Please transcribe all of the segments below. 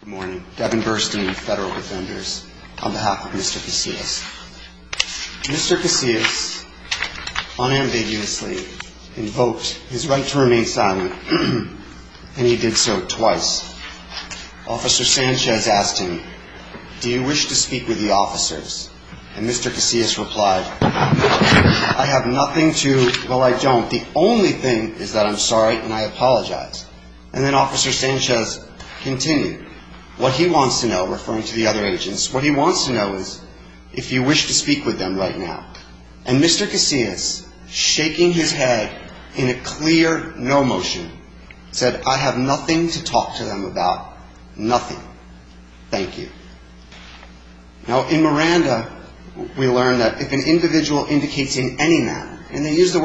Good morning. Devin Burstein, Federal Defenders, on behalf of Mr. Casillas. Mr. Casillas unambiguously invoked his right to remain silent, and he did so twice. Officer Sanchez asked him, do you wish to speak with the officers? And Mr. Casillas replied, I have nothing to, well I don't, the only thing is that I'm sorry and I apologize. And then Officer Sanchez says, continue. What he wants to know, referring to the other agents, what he wants to know is if you wish to speak with them right now. And Mr. Casillas, shaking his head in a clear no motion, said, I have nothing to talk to them about. Nothing. Thank you. Now in Miranda, we learn that if an individual indicates in any manner, and they use the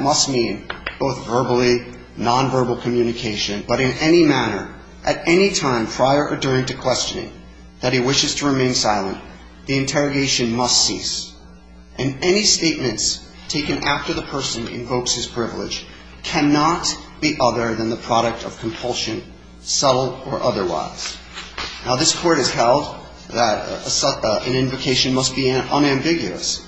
must mean both verbally, nonverbal communication, but in any manner, at any time prior or during to questioning, that he wishes to remain silent, the interrogation must cease. And any statements taken after the person invokes his privilege cannot be other than the product of compulsion, subtle or otherwise. Now this Court has held that an invocation must be unambiguous,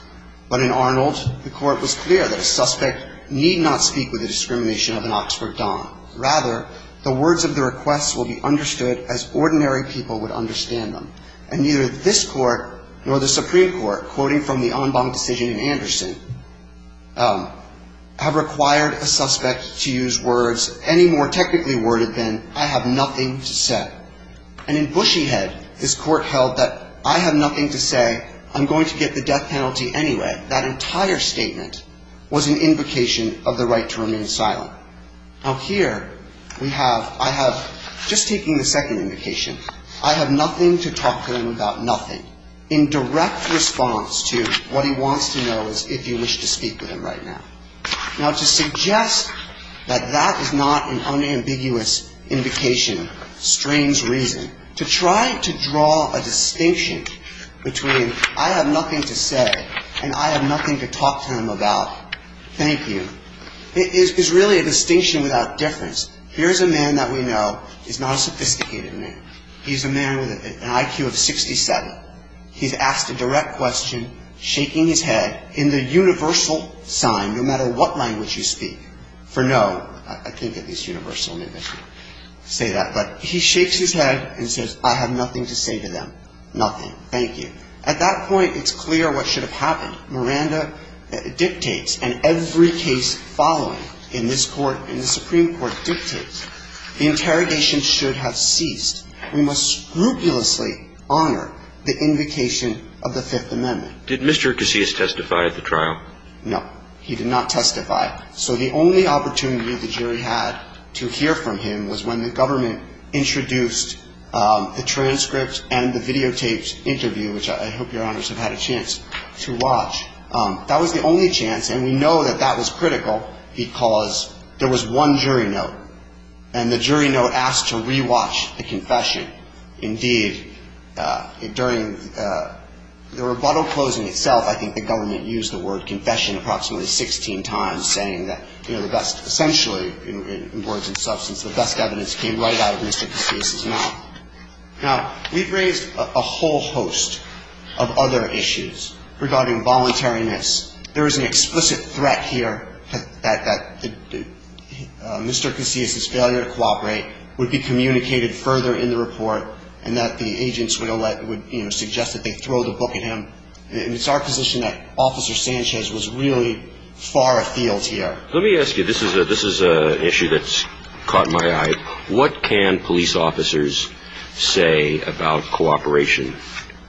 but in Arnold, the Court was clear that a suspect need not speak with the discrimination of an Oxford Don. Rather, the words of the request will be understood as ordinary people would understand them. And neither this Court nor the Supreme Court, quoting from the Anbang decision in Anderson, have required a suspect to use words any more technically worded than I have nothing to say. And in Bushyhead, this Court held that I have nothing to say, I'm I have nothing to say, and that entire statement was an invocation of the right to remain silent. Now here, we have, I have, just taking the second invocation, I have nothing to talk to him about nothing, in direct response to what he wants to know is if you wish to speak with him right now. Now to suggest that that is not an unambiguous invocation strains reason. To try to draw a distinction between I have nothing to say and I have nothing to talk to him about, thank you, is really a distinction without difference. Here's a man that we know is not a sophisticated man. He's a man with an IQ of 67. He's asked a direct question, shaking his head in the universal sign, no matter what language you speak, for no, I have nothing to say to them. Nothing. Thank you. At that point, it's clear what should have happened. Miranda dictates, and every case following in this Court, in the Supreme Court dictates, the interrogation should have ceased. We must scrupulously honor the invocation of the Fifth Amendment. Did Mr. Casillas testify at the trial? No. He did not testify. So the only opportunity the jury had to hear from him was when the transcript and the videotaped interview, which I hope Your Honors have had a chance to watch, that was the only chance, and we know that that was critical because there was one jury note, and the jury note asked to re-watch the confession. Indeed, during the rebuttal closing itself, I think the government used the word confession approximately 16 times, saying that, you know, the best, essentially, in words and substance, the best evidence came right out of Mr. Casillas' mouth. Now, we've raised a whole host of other issues regarding voluntariness. There is an explicit threat here that Mr. Casillas' failure to cooperate would be communicated further in the report, and that the agents would suggest that they throw the book at him. And it's our position that Officer Sanchez was really far afield here. Let me ask you, this is an issue that's caught my eye. What can police officers say about cooperation?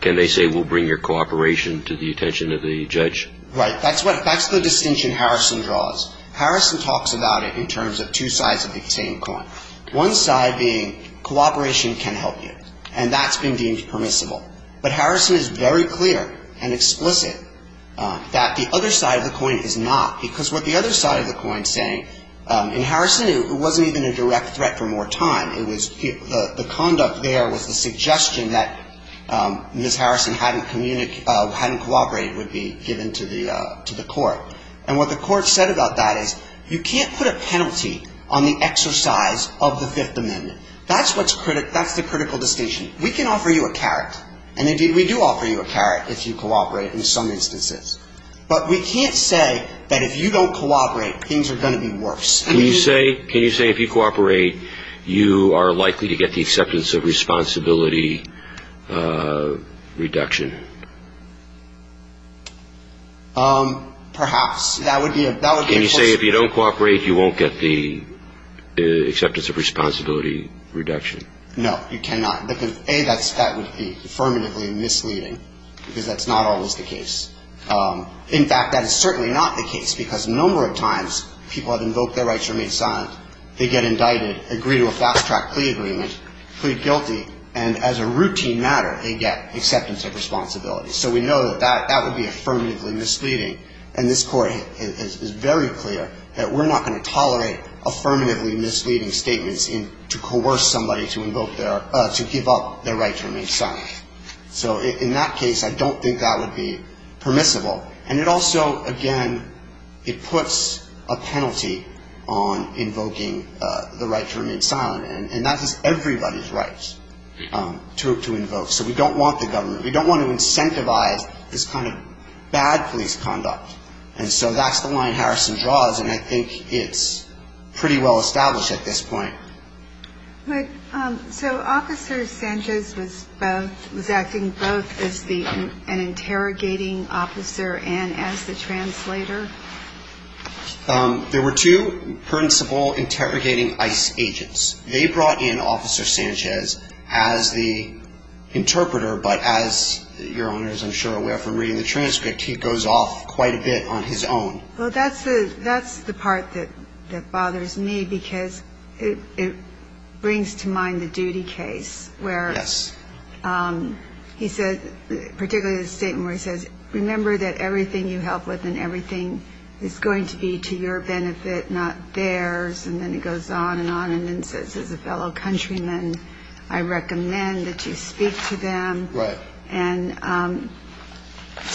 Can they say, we'll bring your cooperation to the attention of the judge? Right. That's the distinction Harrison draws. Harrison talks about it in terms of two sides of the same coin. One side being cooperation can help you, and that's been deemed permissible. But Harrison is very clear and explicit that the other side of the coin is not, because what the other side of the coin is saying, in Harrison, it wasn't even a direct threat for more time. It was, the conduct there was the suggestion that Ms. Harrison hadn't communicated, hadn't cooperated, would be given to the court. And what the court said about that is, you can't put a penalty on the exercise of the Fifth Amendment. That's what's, that's the critical distinction. We can offer you a carrot, and indeed, we do offer you a carrot if you cooperate in some instances. But we can't say that if you don't cooperate, things are going to be worse. Can you say, can you say if you cooperate, you are likely to get the acceptance of responsibility reduction? Perhaps. That would be a, that would be a possibility. Can you say if you don't cooperate, you won't get the acceptance of responsibility reduction? No, you cannot. A, that would be affirmatively misleading, because that's not always the case. In fact, that is certainly not the case, because a number of times, people have invoked their rights or made silent. They get indicted, agree to a fast-track plea agreement, plead guilty, and as a routine matter, they get acceptance of responsibility. So we know that that would be affirmatively misleading. And this court is very clear that we're not going to tolerate affirmatively misleading statements in, to coerce somebody to invoke their, to give up their right to remain silent. So in that case, I don't think that would be permissible. And it also, again, it puts a penalty on invoking the right to remain silent. And that is everybody's right to invoke. So we don't want the government, we don't want to incentivize this kind of bad police conduct. And so that's the line Harrison draws, and I think it's pretty well established at this point. So Officer Sanchez was both, was acting both as the, an interrogating officer and as the translator? There were two principal interrogating ICE agents. They brought in Officer Sanchez as the interpreter, but as your Honor is, I'm sure, aware from reading the transcript, he goes off quite a bit on his own. Well, that's the part that bothers me, because it brings to mind the duty case, where he said, particularly the statement where he says, remember that everything you help with and everything is going to be to your benefit, not theirs. And then it goes on and on, and then he says, as a fellow countryman, I recommend that you speak to them. Right. And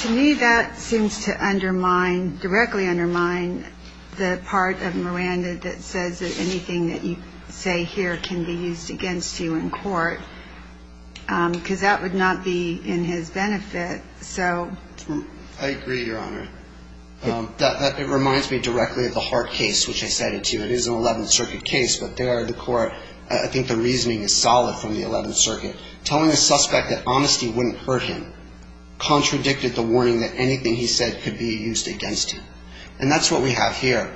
to me, that seems to undermine, directly undermine the part of Miranda that says that anything that you say here can be used against you in court. Because that would not be in his benefit. I agree, your Honor. It reminds me directly of the Hart case, which I cited to you. It is an 11th Circuit case, but there the court, I think the reasoning is solid from the 11th Circuit. Telling a suspect that honesty wouldn't hurt him contradicted the warning that anything he said could be used against him. And that's what we have here.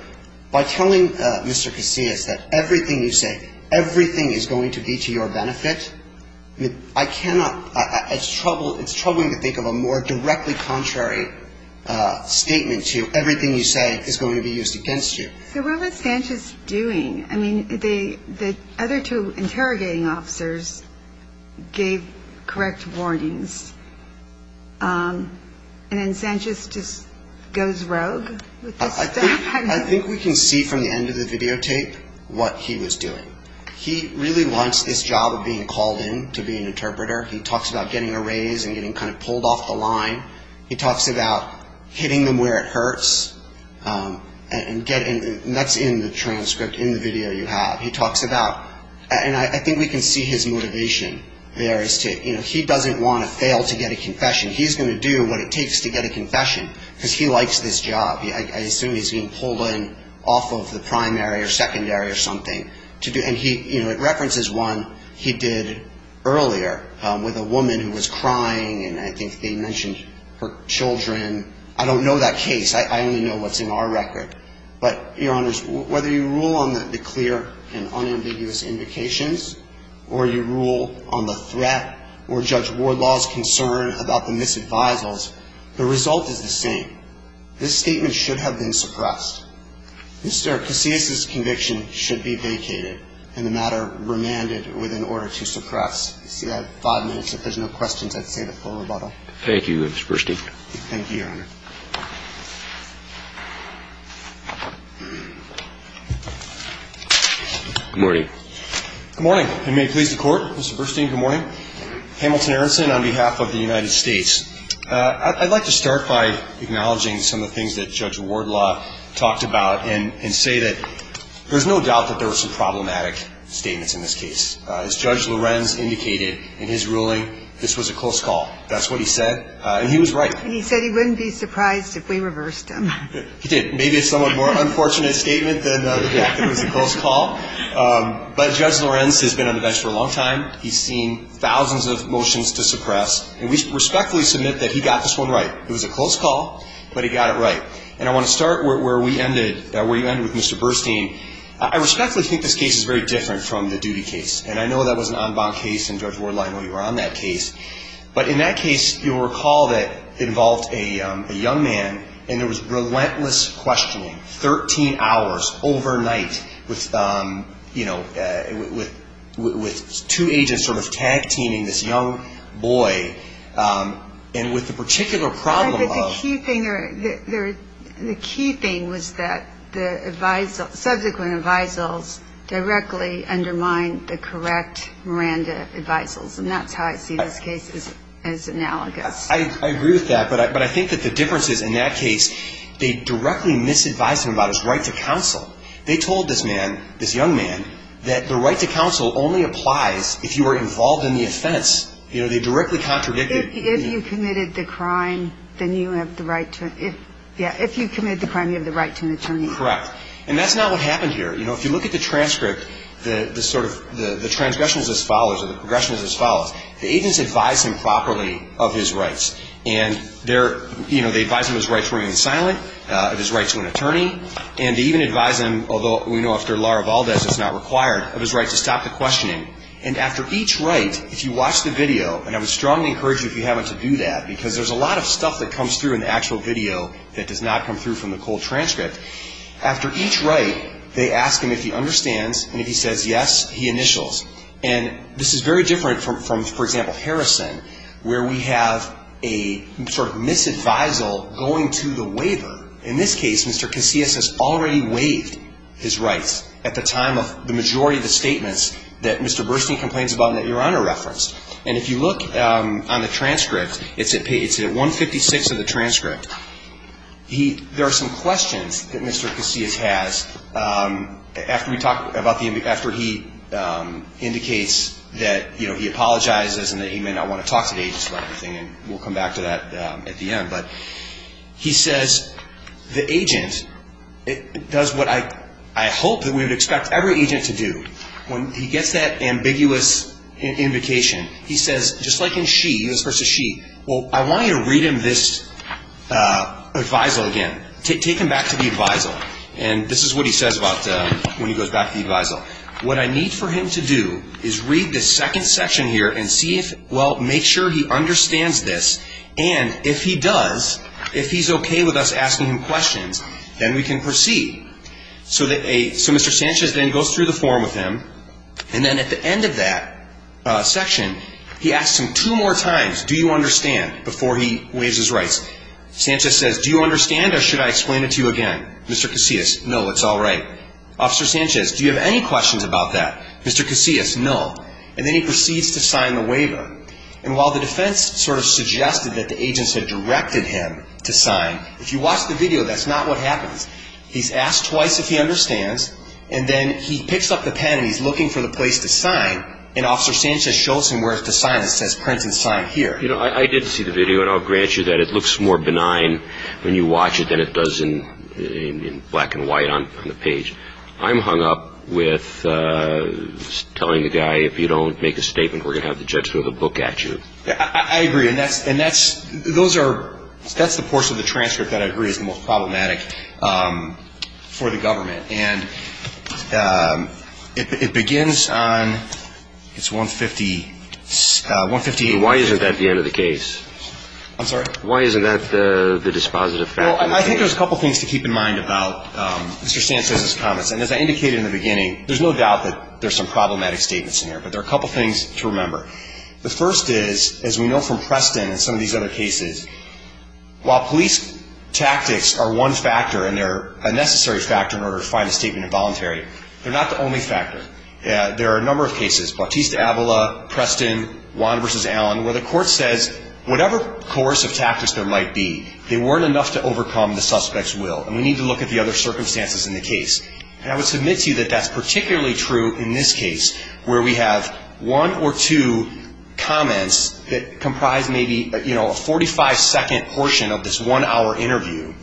By telling Mr. Casillas that everything you say, everything is going to be to your benefit, I cannot, it's troubling to think of a more directly contrary statement to everything you say is going to be used against you. So what was Sanchez doing? I mean, the other two interrogating officers gave correct warnings. And then Sanchez just goes rogue with this stuff? I think we can see from the end of the videotape what he was doing. He really wants this job being called in to be an interpreter. He talks about getting a raise and getting kind of pulled off the line. He talks about hitting them where it hurts. And that's in the transcript, in the video you have. He talks about, and I think we can see his motivation there. He doesn't want to fail to get a confession. He's going to do what it takes to get a confession, because he likes this job. I assume he's being pulled in off the primary or secondary or something. And he, you know, it references one he did earlier with a woman who was crying and I think they mentioned her children. I don't know that case. I only know what's in our record. But, Your Honors, whether you rule on the clear and unambiguous indications or you rule on the threat or judge Wardlaw's concern about the misadvisals, the result is the same. This statement should have been suppressed. Mr. Casillas' conviction should be vacated and the matter remanded with an order to suppress. You see, I have five minutes. If there's no questions, I'd save it for rebuttal. Thank you, Mr. Burstein. Thank you, Your Honor. Good morning. Good morning. And may it please the Court, Mr. Burstein, good morning. Hamilton Aronson on behalf of the United States. I'd like to start by acknowledging some of the things that Judge Wardlaw talked about and say that there's no doubt that there were some problematic statements in this case. As Judge Lorenz indicated in his ruling, this was a close call. That's what he said. And he was right. And he said he wouldn't be surprised if we reversed him. He did. Maybe it's a more unfortunate statement than the fact that it was a close call. But Judge Lorenz has been able to submit that he got this one right. It was a close call, but he got it right. And I want to start where we ended, where you ended with Mr. Burstein. I respectfully think this case is very different from the duty case. And I know that was an en banc case and Judge Wardlaw, I know you were on that case. But in that case, you'll recall that it involved a young man and there was relentless questioning, 13 hours, overnight, with, you know, with two agents sort of tag-teaming this young boy. And with the particular problem of... The key thing was that the subsequent advisals directly undermined the correct Miranda advisals. And that's how I see this case as analogous. I agree with that. But I think that the difference is in that case, they directly misadvised him about his right to counsel. They told this man, this young man, that the right to counsel only applies if you are involved in the offense. You know, they directly contradicted... If you committed the crime, then you have the right to... Yeah, if you committed the crime, you have the right to an attorney. Correct. And that's not what happened here. You know, if you look at the transcript, the sort of... The transgression is as follows, or the progression is as follows. The agents advised him properly of his rights. And, you know, they advised him of his rights to remain silent, of his rights to an attorney. And they even advised him, although we know after Laura Valdez it's not required, of his right to stop the questioning. And after each right, if you watch the video, and I would strongly encourage you if you haven't to do that, because there's a lot of stuff that comes through in the actual video that does not come through from the cold transcript. After each right, they ask him if he understands, and if he says yes, he initials. And this is very different from, for example, Harrison, where we have a sort of misadvisal going to the waiver. In this case, Mr. Casillas has already waived his rights at the time of the majority of the statements that Mr. Casillas made. And Mr. Burstein complains about an error on a reference. And if you look on the transcript, it's at 156 of the transcript. There are some questions that Mr. Casillas has after he indicates that he apologizes and that he may not want to talk to the agents about everything. And we'll come back to that at the end. But he says, the agent does what I hope that we would expect every agent to do. When he gets that ambiguous invocation, he says, just like in she, he was supposed to she, well, I want you to read him this advisal again. Take him back to the advisal, and this is what he says when he goes back to the advisal. What I need for him to do is read the second section here and see if, well, make sure he understands this. And if he does, if he's okay with us asking him questions, then we can proceed. So Mr. Sanchez then goes through the form with him, and then at the end of that section, he asks him two more times, do you understand, before he waives his rights. Sanchez says, do you understand, or should I explain it to you again? Mr. Casillas, no, it's all right. Officer Sanchez, do you have any questions about that? Mr. Casillas, no. And then he proceeds to sign the waiver. And while the defense sort of suggested that the agents had directed him to sign, if you watch the video, that's not what happens. He asks twice if he understands, and then he picks up the pen and he's looking for the place to sign. And Officer Sanchez shows him where to sign. It says print and sign here. You know, I did see the video, and I'll grant you that it looks more benign when you watch it than it does in black and white on the page. I'm hung up with telling the guy, if you don't make a statement, we're going to have the judge throw the book at you. I agree, and that's the portion of the transcript that I agree is the most problematic. It's for the government, and it begins on, it's 158. Why isn't that the end of the case? I'm sorry? Why isn't that the dispositive factor? Well, I think there's a couple things to keep in mind about Mr. Sanchez's comments. And as I indicated in the beginning, there's no doubt that there's some problematic statements in here. But there are a couple things to remember. The first is, as we know from Preston and some of these other cases, while police tactics are one factor, and they're a necessary factor in order to find a statement involuntary, they're not the only factor. There are a number of cases, Bautista-Avila, Preston, Wanda v. Allen, where the court says whatever coercive tactics there might be, they weren't enough to overcome the suspect's will. And we need to look at the other circumstances in the case. And I would submit to you that that's particularly true in this case, where we have one or two comments that comprise maybe a 45-second portion of this one-hour interview.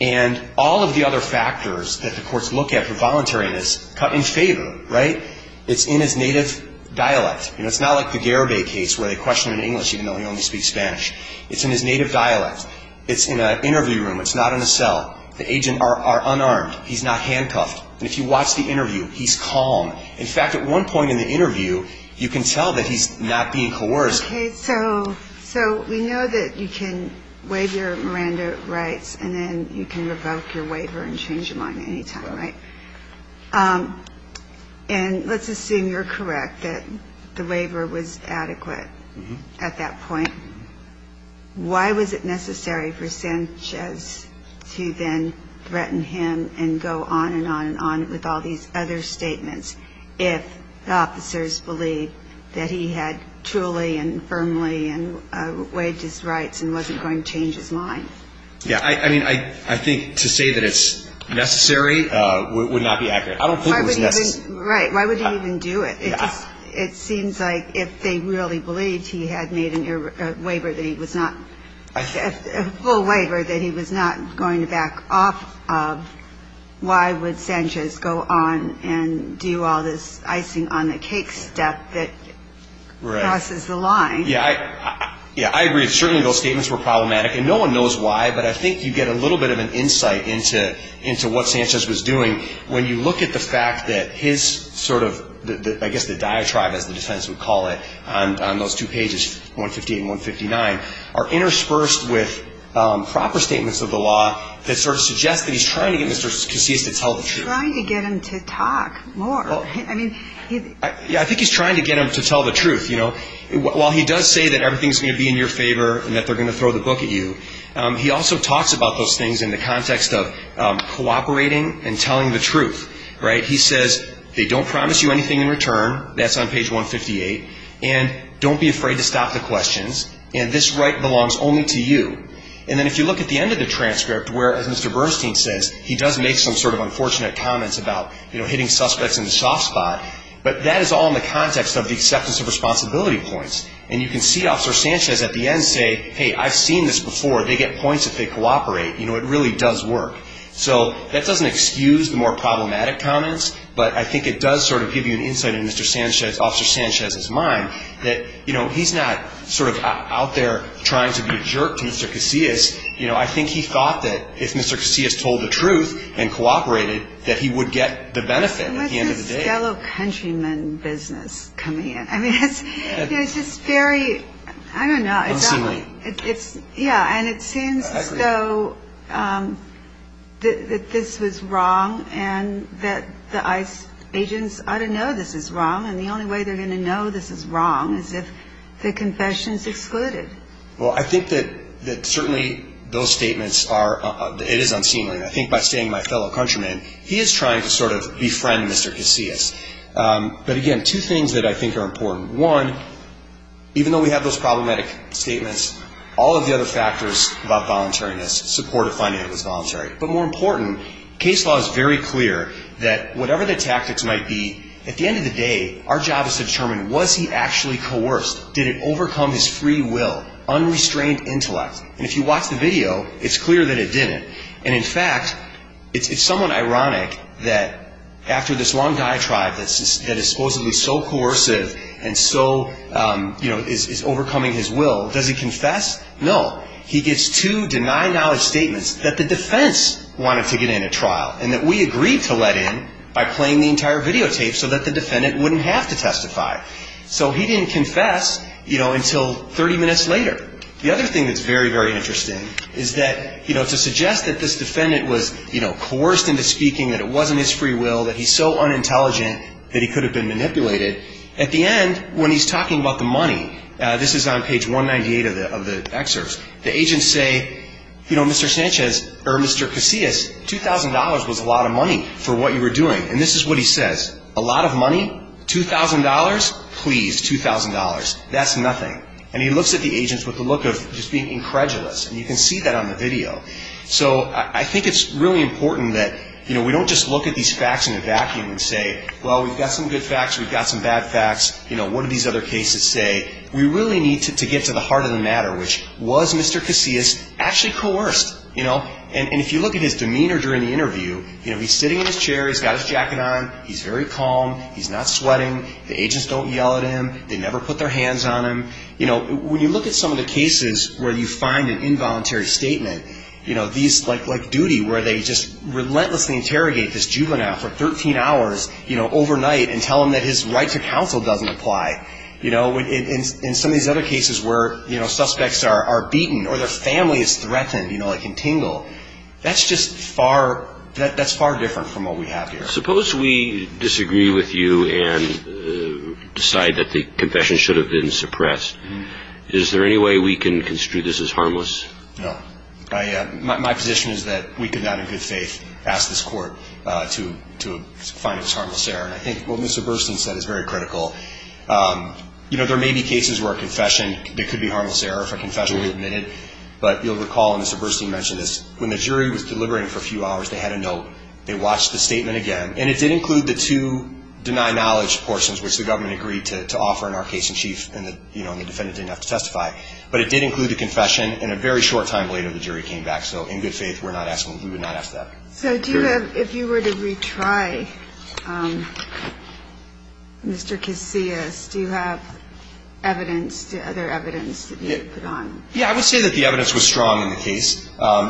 And all of the other factors that the courts look at for voluntariness cut in favor, right? It's in his native dialect. You know, it's not like the Garibay case where they question him in English even though he only speaks Spanish. It's in his native dialect. It's in an interview room. It's not in a cell. The agents are unarmed. He's not handcuffed. And if you watch the interview, he's calm. In fact, at one point in the interview, you can tell that he's not being coerced. Okay, so we know that you can waive your Miranda rights and then you can revoke your waiver and change your mind any time, right? And let's assume you're correct that the waiver was adequate at that point. Why was it necessary for Sanchez to then threaten him and go on and on and on with all these other statements if the officers believed that he had truly and firmly waived his rights and wasn't going to change his mind? Yeah, I mean, I think to say that it's necessary would not be accurate. I don't think it was necessary. Right, why would he even do it? It seems like if they really believed he had made a waiver that he was not, a full waiver that he was not going to back off of, why would Sanchez go on and do all this icing on the cake step that crosses the line? Yeah, I agree. Certainly those statements were problematic, and no one knows why, but I think you get a little bit of an insight into what Sanchez was doing when you look at the fact that his sort of, I guess the diatribe, as the defense would call it, on those two pages, 158 and 159, are interspersed with proper statements of the law that sort of suggest that he's trying to get Mr. Casillas to tell the truth. Trying to get him to talk more. Yeah, I think he's trying to get him to tell the truth. While he does say that everything's going to be in your favor and that they're going to throw the book at you, he also talks about those things in the context of cooperating and telling the truth. He says, they don't promise you anything in return, that's on page 158, and don't be afraid to stop the questions, and this right belongs only to you. And then if you look at the end of the transcript where, as Mr. Bernstein says, he does make some sort of unfortunate comments about, you know, hitting suspects in the soft spot, but that is all in the context of the acceptance of responsibility points. And you can see Officer Sanchez at the end say, hey, I've seen this before, they get points if they cooperate. You know, it really does work. So that doesn't excuse the more problematic comments, but I think it does sort of give you an insight into Officer Sanchez's mind that, you know, he's not sort of out there trying to be a jerk to Mr. Casillas. You know, I think he thought that if Mr. Casillas told the truth and cooperated, that he would get the benefit at the end of the day. What's this fellow countryman business coming in? I mean, it's just very, I don't know. Unseemly. Yeah, and it seems as though that this was wrong and that the ICE agents ought to know this is wrong and the only way they're going to know this is wrong is if the confession is excluded. Well, I think that certainly those statements are, it is unseemly. I think by saying my fellow countryman, he is trying to sort of befriend Mr. Casillas. But, again, two things that I think are important. One, even though we have those problematic statements, all of the other factors about volunteering this, support of finding out it was voluntary. But more important, case law is very clear that whatever the tactics might be, at the end of the day, our job is to determine, was he actually coerced? Did it overcome his free will, unrestrained intellect? And if you watch the video, it's clear that it didn't. And, in fact, it's somewhat ironic that after this one diatribe that is supposedly so coercive and so, you know, is overcoming his will, does he confess? No. He gets two deny knowledge statements that the defense wanted to get in a trial and that we agreed to let in by playing the entire videotape so that the defendant wouldn't have to testify. So he didn't confess, you know, until 30 minutes later. The other thing that's very, very interesting is that, you know, to suggest that this defendant was, you know, coerced into speaking, that it wasn't his free will, that he's so unintelligent that he could have been manipulated, at the end, when he's talking about the money, this is on page 198 of the excerpt, the agents say, you know, Mr. Sanchez, or Mr. Casillas, $2,000 was a lot of money for what you were doing. And this is what he says. A lot of money? $2,000? Please, $2,000. That's nothing. And he looks at the agents with the look of just being incredulous. And you can see that on the video. So I think it's really important that, you know, we don't just look at these facts in a vacuum and say, well, we've got some good facts, we've got some bad facts, you know, what do these other cases say? We really need to get to the heart of the matter, which, was Mr. Casillas actually coerced? You know? And if you look at his demeanor during the interview, you know, he's sitting in his chair, he's got his jacket on, he's very calm, he's not sweating, the agents don't yell at him, they never put their hands on him. You know, when you look at some of the cases where you find an involuntary statement, you know, these, like duty, where they just relentlessly interrogate this juvenile for 13 hours, you know, overnight and tell him that his right to counsel doesn't apply. You know? In some of these other cases where, you know, suspects are beaten or their family is threatened, you know, like in Tingle. That's just far, that's far different from what we have here. Suppose we disagree with you and decide that the confession should have been suppressed. Is there any way we can construe this as harmless? No. My position is that we could not in good faith ask this court to find this harmless error. And I think what Mr. Burstein said is very critical. You know, there may be cases where a confession, there could be harmless error, if a confession were admitted. But you'll recall, and Mr. Burstein mentioned this, when the jury was deliberating for a few hours, they had a note, they watched the statement again. And it did include the two deny knowledge portions, which the government agreed to offer in our case in chief, and the defendant didn't have to testify. But it did include the confession, and a very short time later the jury came back. So in good faith, we're not asking, we would not ask that. So do you have, if you were to retry Mr. Casillas, do you have evidence, other evidence that you could put on? Yeah, I would say that the evidence was strong in the case.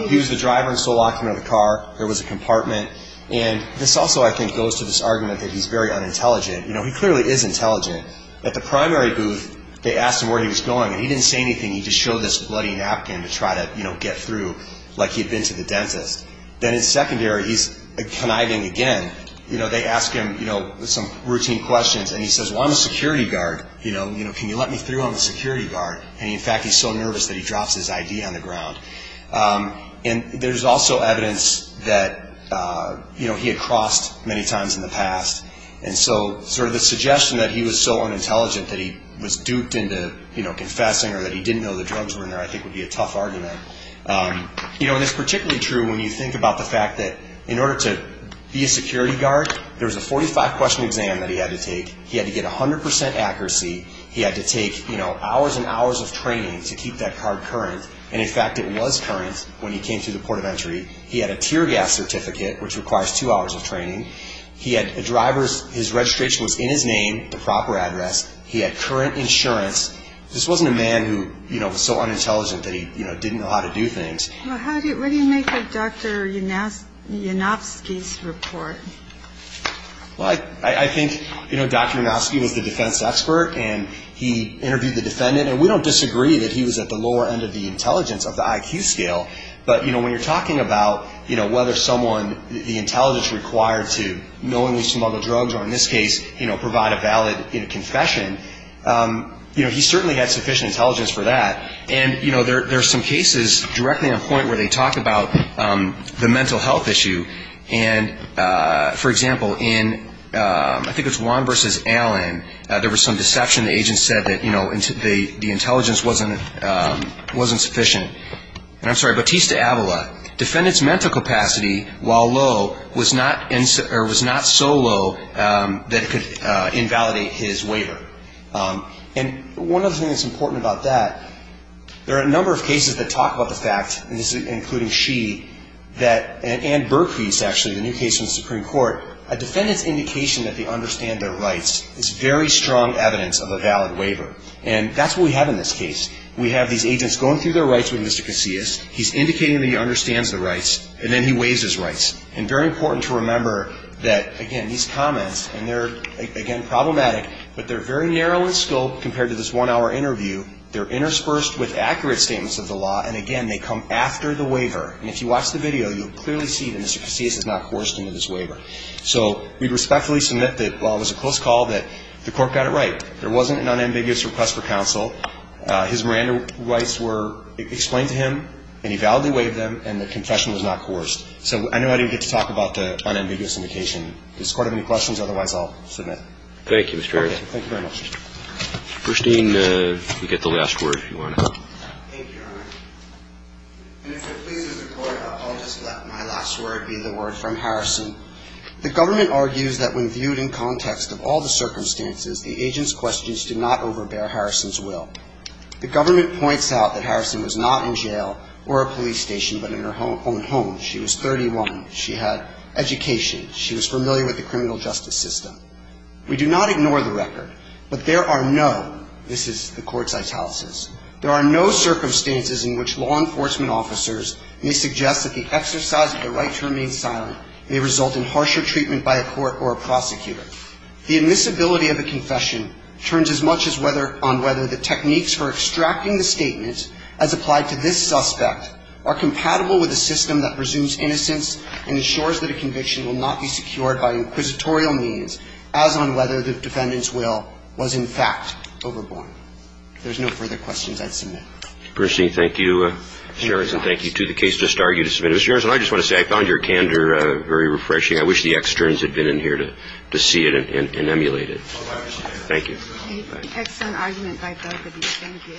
He was the driver and still locked him out of the car. There was a compartment. And this also, I think, goes to this argument that he's very unintelligent. You know, he clearly is intelligent. At the primary booth, they asked him where he was going, and he didn't say anything. He just showed this bloody napkin to try to, you know, get through like he had been to the dentist. Then in secondary, he's conniving again. You know, they ask him, you know, some routine questions. And he says, well, I'm a security guard. You know, can you let me through? I'm a security guard. And, in fact, he's so nervous that he drops his ID on the ground. And there's also evidence that, you know, he had crossed many times in the past. And so sort of the suggestion that he was so unintelligent that he was duped into, you know, confessing or that he didn't know the drugs were in there I think would be a tough argument. You know, and it's particularly true when you think about the fact that in order to be a security guard, there was a 45-question exam that he had to take. He had to get 100 percent accuracy. He had to take, you know, hours and hours of training to keep that card current. And, in fact, it was current when he came to the port of entry. He had a tear gas certificate, which requires two hours of training. He had a driver's. His registration was in his name, the proper address. He had current insurance. This wasn't a man who, you know, was so unintelligent that he, you know, didn't know how to do things. Well, what do you make of Dr. Yanofsky's report? Well, I think, you know, Dr. Yanofsky was the defense expert. And he interviewed the defendant. And we don't disagree that he was at the lower end of the intelligence of the IQ scale. But, you know, when you're talking about, you know, whether someone, the intelligence required to knowingly smuggle drugs or, in this case, you know, provide a valid confession, you know, he certainly had sufficient intelligence for that. And, you know, there are some cases directly on point where they talk about the mental health issue. And, for example, in I think it was Juan v. Allen, there was some deception. The agent said that, you know, the intelligence wasn't sufficient. And I'm sorry, Batista Avala. Defendant's mental capacity, while low, was not so low that it could invalidate his waiver. And one other thing that's important about that, there are a number of cases that talk about the fact, and this is including Xi, that, and Burkvist, actually, the new case in the Supreme Court, a defendant's indication that they understand their rights is very strong evidence of a valid waiver. And that's what we have in this case. We have these agents going through their rights with Mr. Casillas. He's indicating that he understands the rights. And then he waives his rights. And very important to remember that, again, these comments, and they're, again, problematic, but they're very narrow in scope compared to this one-hour interview. They're interspersed with accurate statements of the law. And, again, they come after the waiver. And if you watch the video, you'll clearly see that Mr. Casillas is not coerced into this waiver. So we respectfully submit that, while it was a close call, that the court got it right. There wasn't an unambiguous request for counsel. His Miranda rights were explained to him. And he validly waived them. And the confession was not coerced. So I know I didn't get to talk about the unambiguous indication. Does the Court have any questions? Otherwise, I'll submit. Thank you, Mr. Harrison. Thank you very much. First Dean, you get the last word, if you want to. Thank you, Your Honor. And if it pleases the Court, I'll just let my last word be the word from Harrison. The government argues that when viewed in context of all the circumstances, the agent's questions did not overbear Harrison's will. The government points out that Harrison was not in jail or a police station but in her own home. She was 31. She had education. She was familiar with the criminal justice system. We do not ignore the record. But there are no, this is the Court's italicis, there are no circumstances in which law enforcement officers may suggest that the exercise of the right to remain silent may result in harsher treatment by a court or a prosecutor. The admissibility of a confession turns as much on whether the techniques for extracting the statement as applied to this suspect are compatible with a system that presumes innocence and ensures that a conviction will not be secured by inquisitorial means as on whether the defendant's will was in fact overborne. If there's no further questions, I'd submit. First Dean, thank you, Mr. Harrison. Thank you to the case just argued. Mr. Harrison, I just want to say I found your candor very refreshing. I wish the externs had been in here to see it and emulate it. Thank you. Excellent argument by both of you. Thank you.